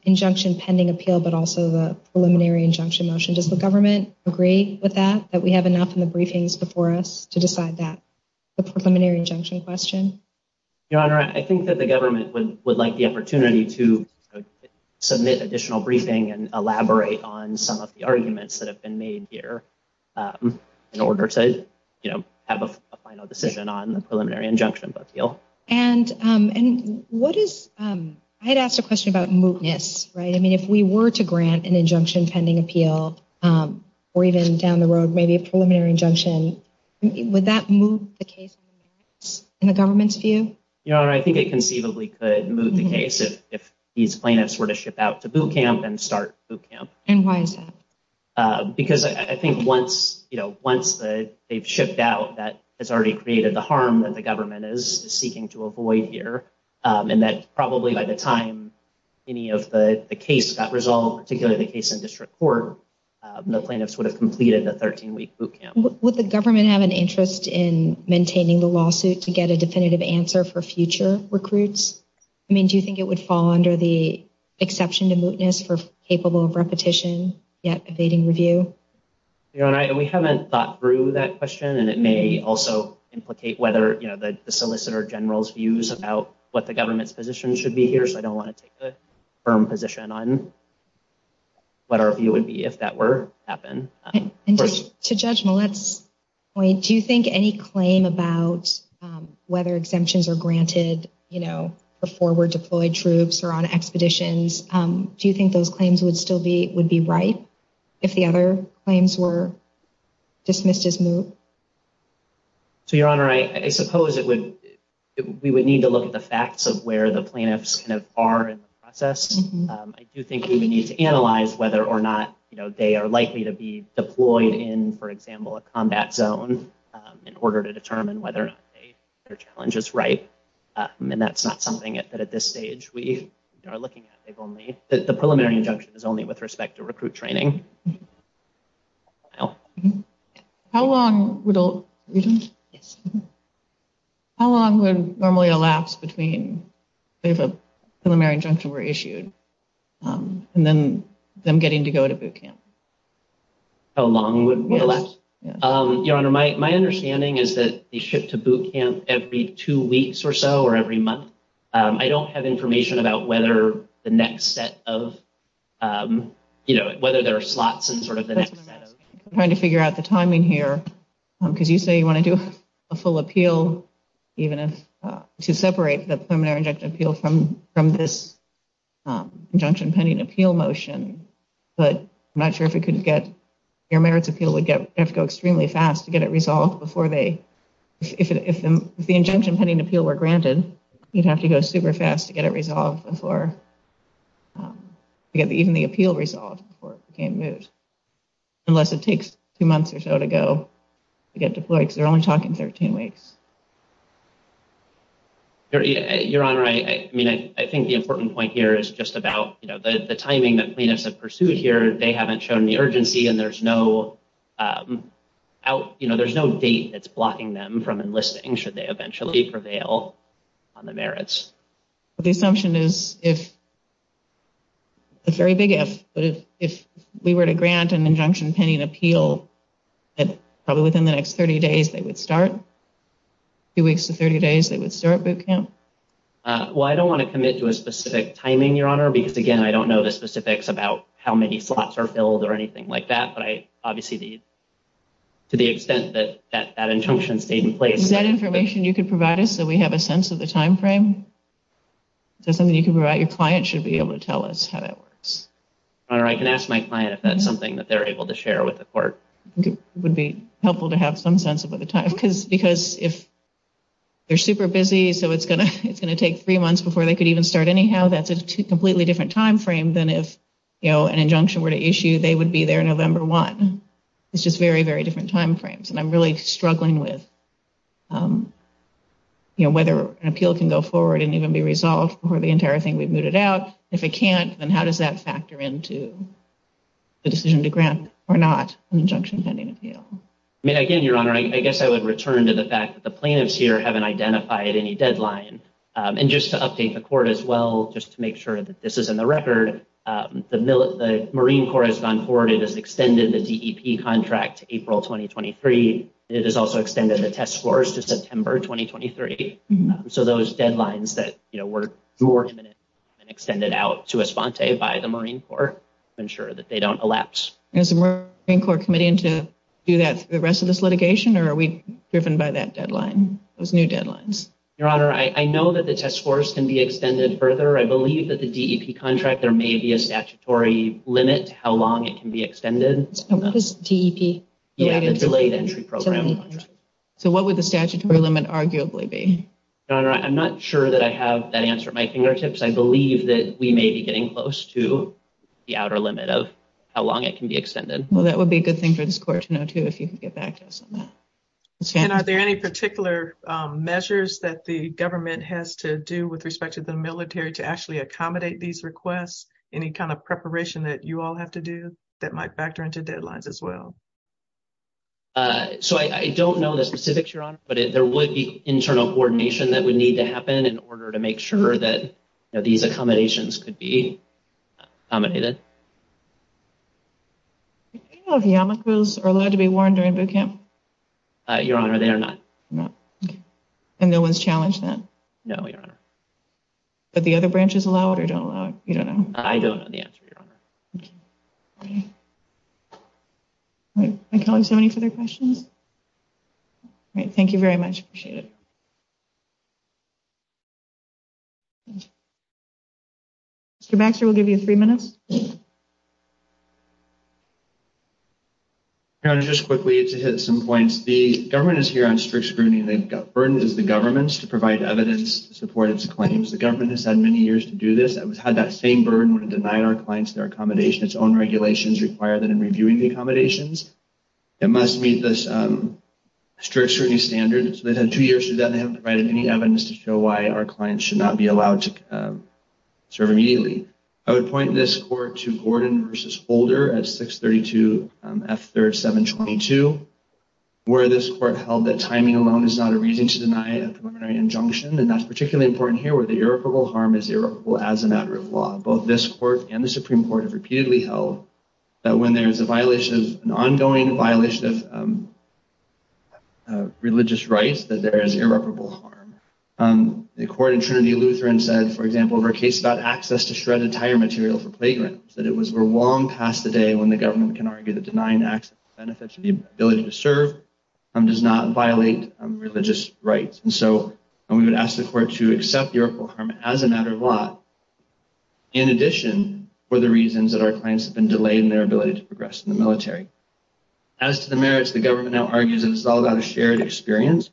injunction pending appeal but also the preliminary injunction motion. Does the government agree with that, that we have enough in the briefings before us to decide that? The preliminary injunction question? Your Honor, I think that the government would like the opportunity to submit additional briefing and elaborate on some of the arguments that have been made here in order to, you know, have a final decision on the preliminary injunction appeal. And what is – I had asked a question about mootness, right? I mean, if we were to grant an injunction pending appeal or even down the road maybe a preliminary injunction, would that move the case in the government's view? Your Honor, I think it conceivably could move the case if these plaintiffs were to ship out to boot camp and start boot camp. And why is that? Because I think once, you know, once they've shipped out, that has already created the harm that the government is seeking to avoid here. And that probably by the time any of the case got resolved, particularly the case in district court, the plaintiffs would have completed the 13-week boot camp. Would the government have an interest in maintaining the lawsuit to get a definitive answer for future recruits? I mean, do you think it would fall under the exception to mootness for capable of repetition yet evading review? Your Honor, we haven't thought through that question, and it may also implicate whether, you know, the solicitor general's views about what the government's position should be here. So I don't want to take a firm position on what our view would be if that were to happen. To Judge Millett's point, do you think any claim about whether exemptions are granted, you know, for forward-deployed troops or on expeditions, do you think those claims would still be right if the other claims were dismissed as moot? So, Your Honor, I suppose we would need to look at the facts of where the plaintiffs are in the process. I do think we would need to analyze whether or not, you know, they are likely to be deployed in, for example, a combat zone in order to determine whether or not their challenge is right. And that's not something that at this stage we are looking at. The preliminary injunction is only with respect to recruit training. How long would normally elapse between if a preliminary injunction were issued and then them getting to go to boot camp? How long would elapse? Your Honor, my understanding is that they ship to boot camp every two weeks or so or every month. I don't have information about whether the next set of, you know, whether there are slots in sort of the next set of— I'm trying to figure out the timing here because you say you want to do a full appeal, even if to separate the preliminary injunction appeal from this injunction pending appeal motion. But I'm not sure if it could get—your merits appeal would have to go extremely fast to get it resolved before they— would have to go super fast to get it resolved before—to get even the appeal resolved before it became moot. Unless it takes two months or so to go to get deployed because they're only talking 13 weeks. Your Honor, I mean, I think the important point here is just about, you know, the timing that plaintiffs have pursued here. They haven't shown the urgency and there's no out—you know, The assumption is if—it's a very big if—but if we were to grant an injunction pending appeal, probably within the next 30 days they would start. Two weeks to 30 days they would start boot camp. Well, I don't want to commit to a specific timing, Your Honor, because, again, I don't know the specifics about how many slots are filled or anything like that. But I—obviously, to the extent that that injunction stayed in place— Is that information you could provide us so we have a sense of the timeframe? Is that something you could provide—your client should be able to tell us how that works. Your Honor, I can ask my client if that's something that they're able to share with the court. It would be helpful to have some sense of the time. Because if they're super busy, so it's going to take three months before they could even start anyhow, that's a completely different timeframe than if, you know, an injunction were to issue, they would be there November 1. It's just very, very different timeframes. And I'm really struggling with, you know, whether an appeal can go forward and even be resolved for the entire thing we've mooted out. If it can't, then how does that factor into the decision to grant or not an injunction pending appeal? Again, Your Honor, I guess I would return to the fact that the plaintiffs here haven't identified any deadline. And just to update the court as well, just to make sure that this is in the record, the Marine Corps has gone forward. It has extended the DEP contract to April 2023. It has also extended the test scores to September 2023. So those deadlines that, you know, were imminent have been extended out to Esponte by the Marine Corps to ensure that they don't elapse. Is the Marine Corps committing to do that for the rest of this litigation, or are we driven by that deadline, those new deadlines? Your Honor, I know that the test scores can be extended further. I believe that the DEP contract, there may be a statutory limit to how long it can be extended. What is DEP? Yeah, the Delayed Entry Program. So what would the statutory limit arguably be? Your Honor, I'm not sure that I have that answer at my fingertips. I believe that we may be getting close to the outer limit of how long it can be extended. Well, that would be a good thing for this court to know, too, if you can get back to us on that. And are there any particular measures that the government has to do with respect to the military to actually accommodate these requests? Any kind of preparation that you all have to do that might factor into deadlines as well? So I don't know the specifics, Your Honor, but there would be internal coordination that would need to happen in order to make sure that, you know, these accommodations could be accommodated. Do you know if yarmulkes are allowed to be worn during boot camp? Your Honor, they are not. And no one's challenged that? No, Your Honor. But the other branches allow it or don't allow it? You don't know? I don't know the answer, Your Honor. Okay. All right. My colleagues, do you have any further questions? All right. Thank you very much. Appreciate it. Mr. Baxter, we'll give you three minutes. Your Honor, just quickly to hit some points. The government is here on strict scrutiny. The burden is the government's to provide evidence to support its claims. The government has had many years to do this. It has had that same burden when it denied our clients their accommodation. Its own regulations require that in reviewing the accommodations, it must meet the strict scrutiny standards. They've had two years to do that, and they haven't provided any evidence to show why our clients should not be allowed to serve immediately. I would point this court to Gordon v. Holder at 632 F3rd 722, where this court held that timing alone is not a reason to deny a preliminary injunction. And that's particularly important here where the irreparable harm is irreparable as a matter of law. Both this court and the Supreme Court have repeatedly held that when there is irreparable harm. The court in Trinity Lutheran said, for example, of our case about access to shredded tire material for platelets, that it was long past the day when the government can argue that denying access to benefits and the ability to serve does not violate religious rights. And so we would ask the court to accept the irreparable harm as a matter of law, in addition for the reasons that our clients have been delayed in their ability to progress in the military. As to the merits, the government now argues that it's all about a shared experience.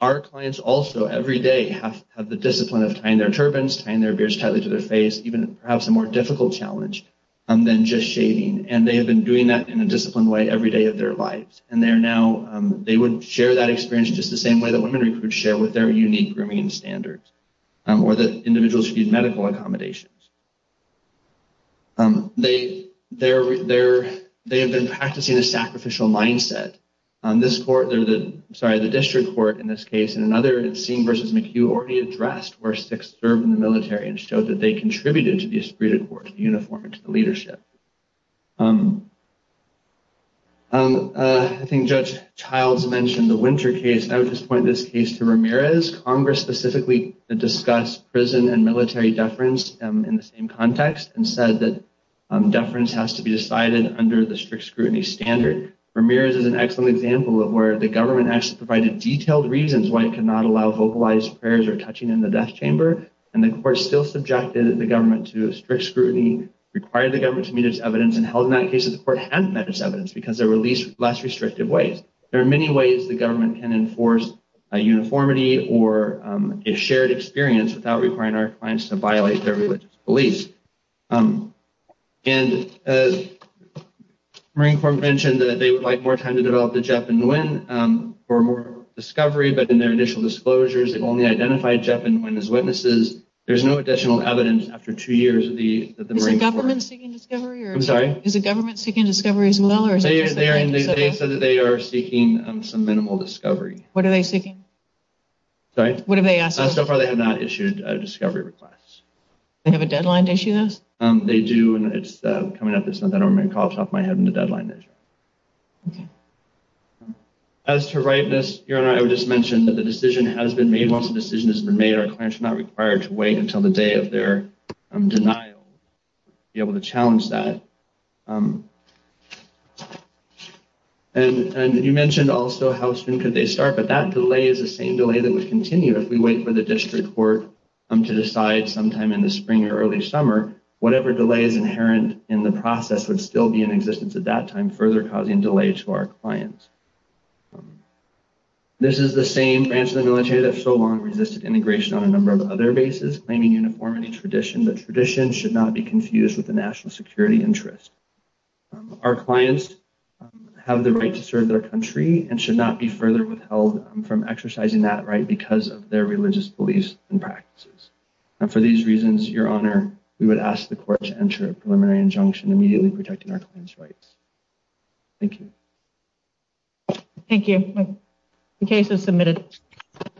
Our clients also every day have the discipline of tying their turbans, tying their beards tightly to their face, even perhaps a more difficult challenge than just shaving. And they have been doing that in a disciplined way every day of their lives. And they are now, they would share that experience just the same way that women recruits share with their unique grooming standards, or that individuals should use medical accommodations. They have been practicing a sacrificial mindset. This court, sorry, the district court in this case and another scene versus McHugh already addressed where Sikhs served in the military and showed that they contributed to the esprit de corps, to the uniform, and to the leadership. I think Judge Childs mentioned the Winter case. I would just point this case to Ramirez. Congress specifically discussed prison and military deference, in the same context and said that deference has to be decided under the strict scrutiny standard. Ramirez is an excellent example of where the government actually provided detailed reasons why it could not allow vocalized prayers or touching in the death chamber. And the court still subjected the government to strict scrutiny, required the government to meet its evidence and held in that case, the court hadn't met its evidence because there were at least less There are many ways the government can enforce a uniformity or a shared experience without requiring our clients to violate their religious beliefs. And Marine Corps mentioned that they would like more time to develop the Jep and Nguyen for more discovery, but in their initial disclosures, they've only identified Jep and Nguyen as witnesses. There's no additional evidence after two years of the Marine Corps. Is the government seeking discovery as well? They said that they are seeking some minimal discovery. What are they seeking? Sorry? What have they asked us? So far they have not issued a discovery request. They have a deadline to issue this? They do. And it's coming up this month. I don't want to make calls off my head on the deadline. As to rightness, I would just mention that the decision has been made once the decision has been made, our clients are not required to wait until the day of their denial to be able to challenge that. And you mentioned also how soon could they start, but that delay is the same delay that would continue if we wait for the district court to decide sometime in the spring or early summer, whatever delay is inherent in the process would still be in existence at that time, further causing delay to our clients. This is the same branch of the military that so long resisted integration on a number of other bases, claiming uniformity tradition. The tradition should not be confused with the national security interest. Our clients have the right to serve their country and should not be further withheld from exercising that right because of their religious beliefs and practices. And for these reasons, your honor, we would ask the court to enter a preliminary injunction immediately protecting our client's rights. Thank you. Thank you.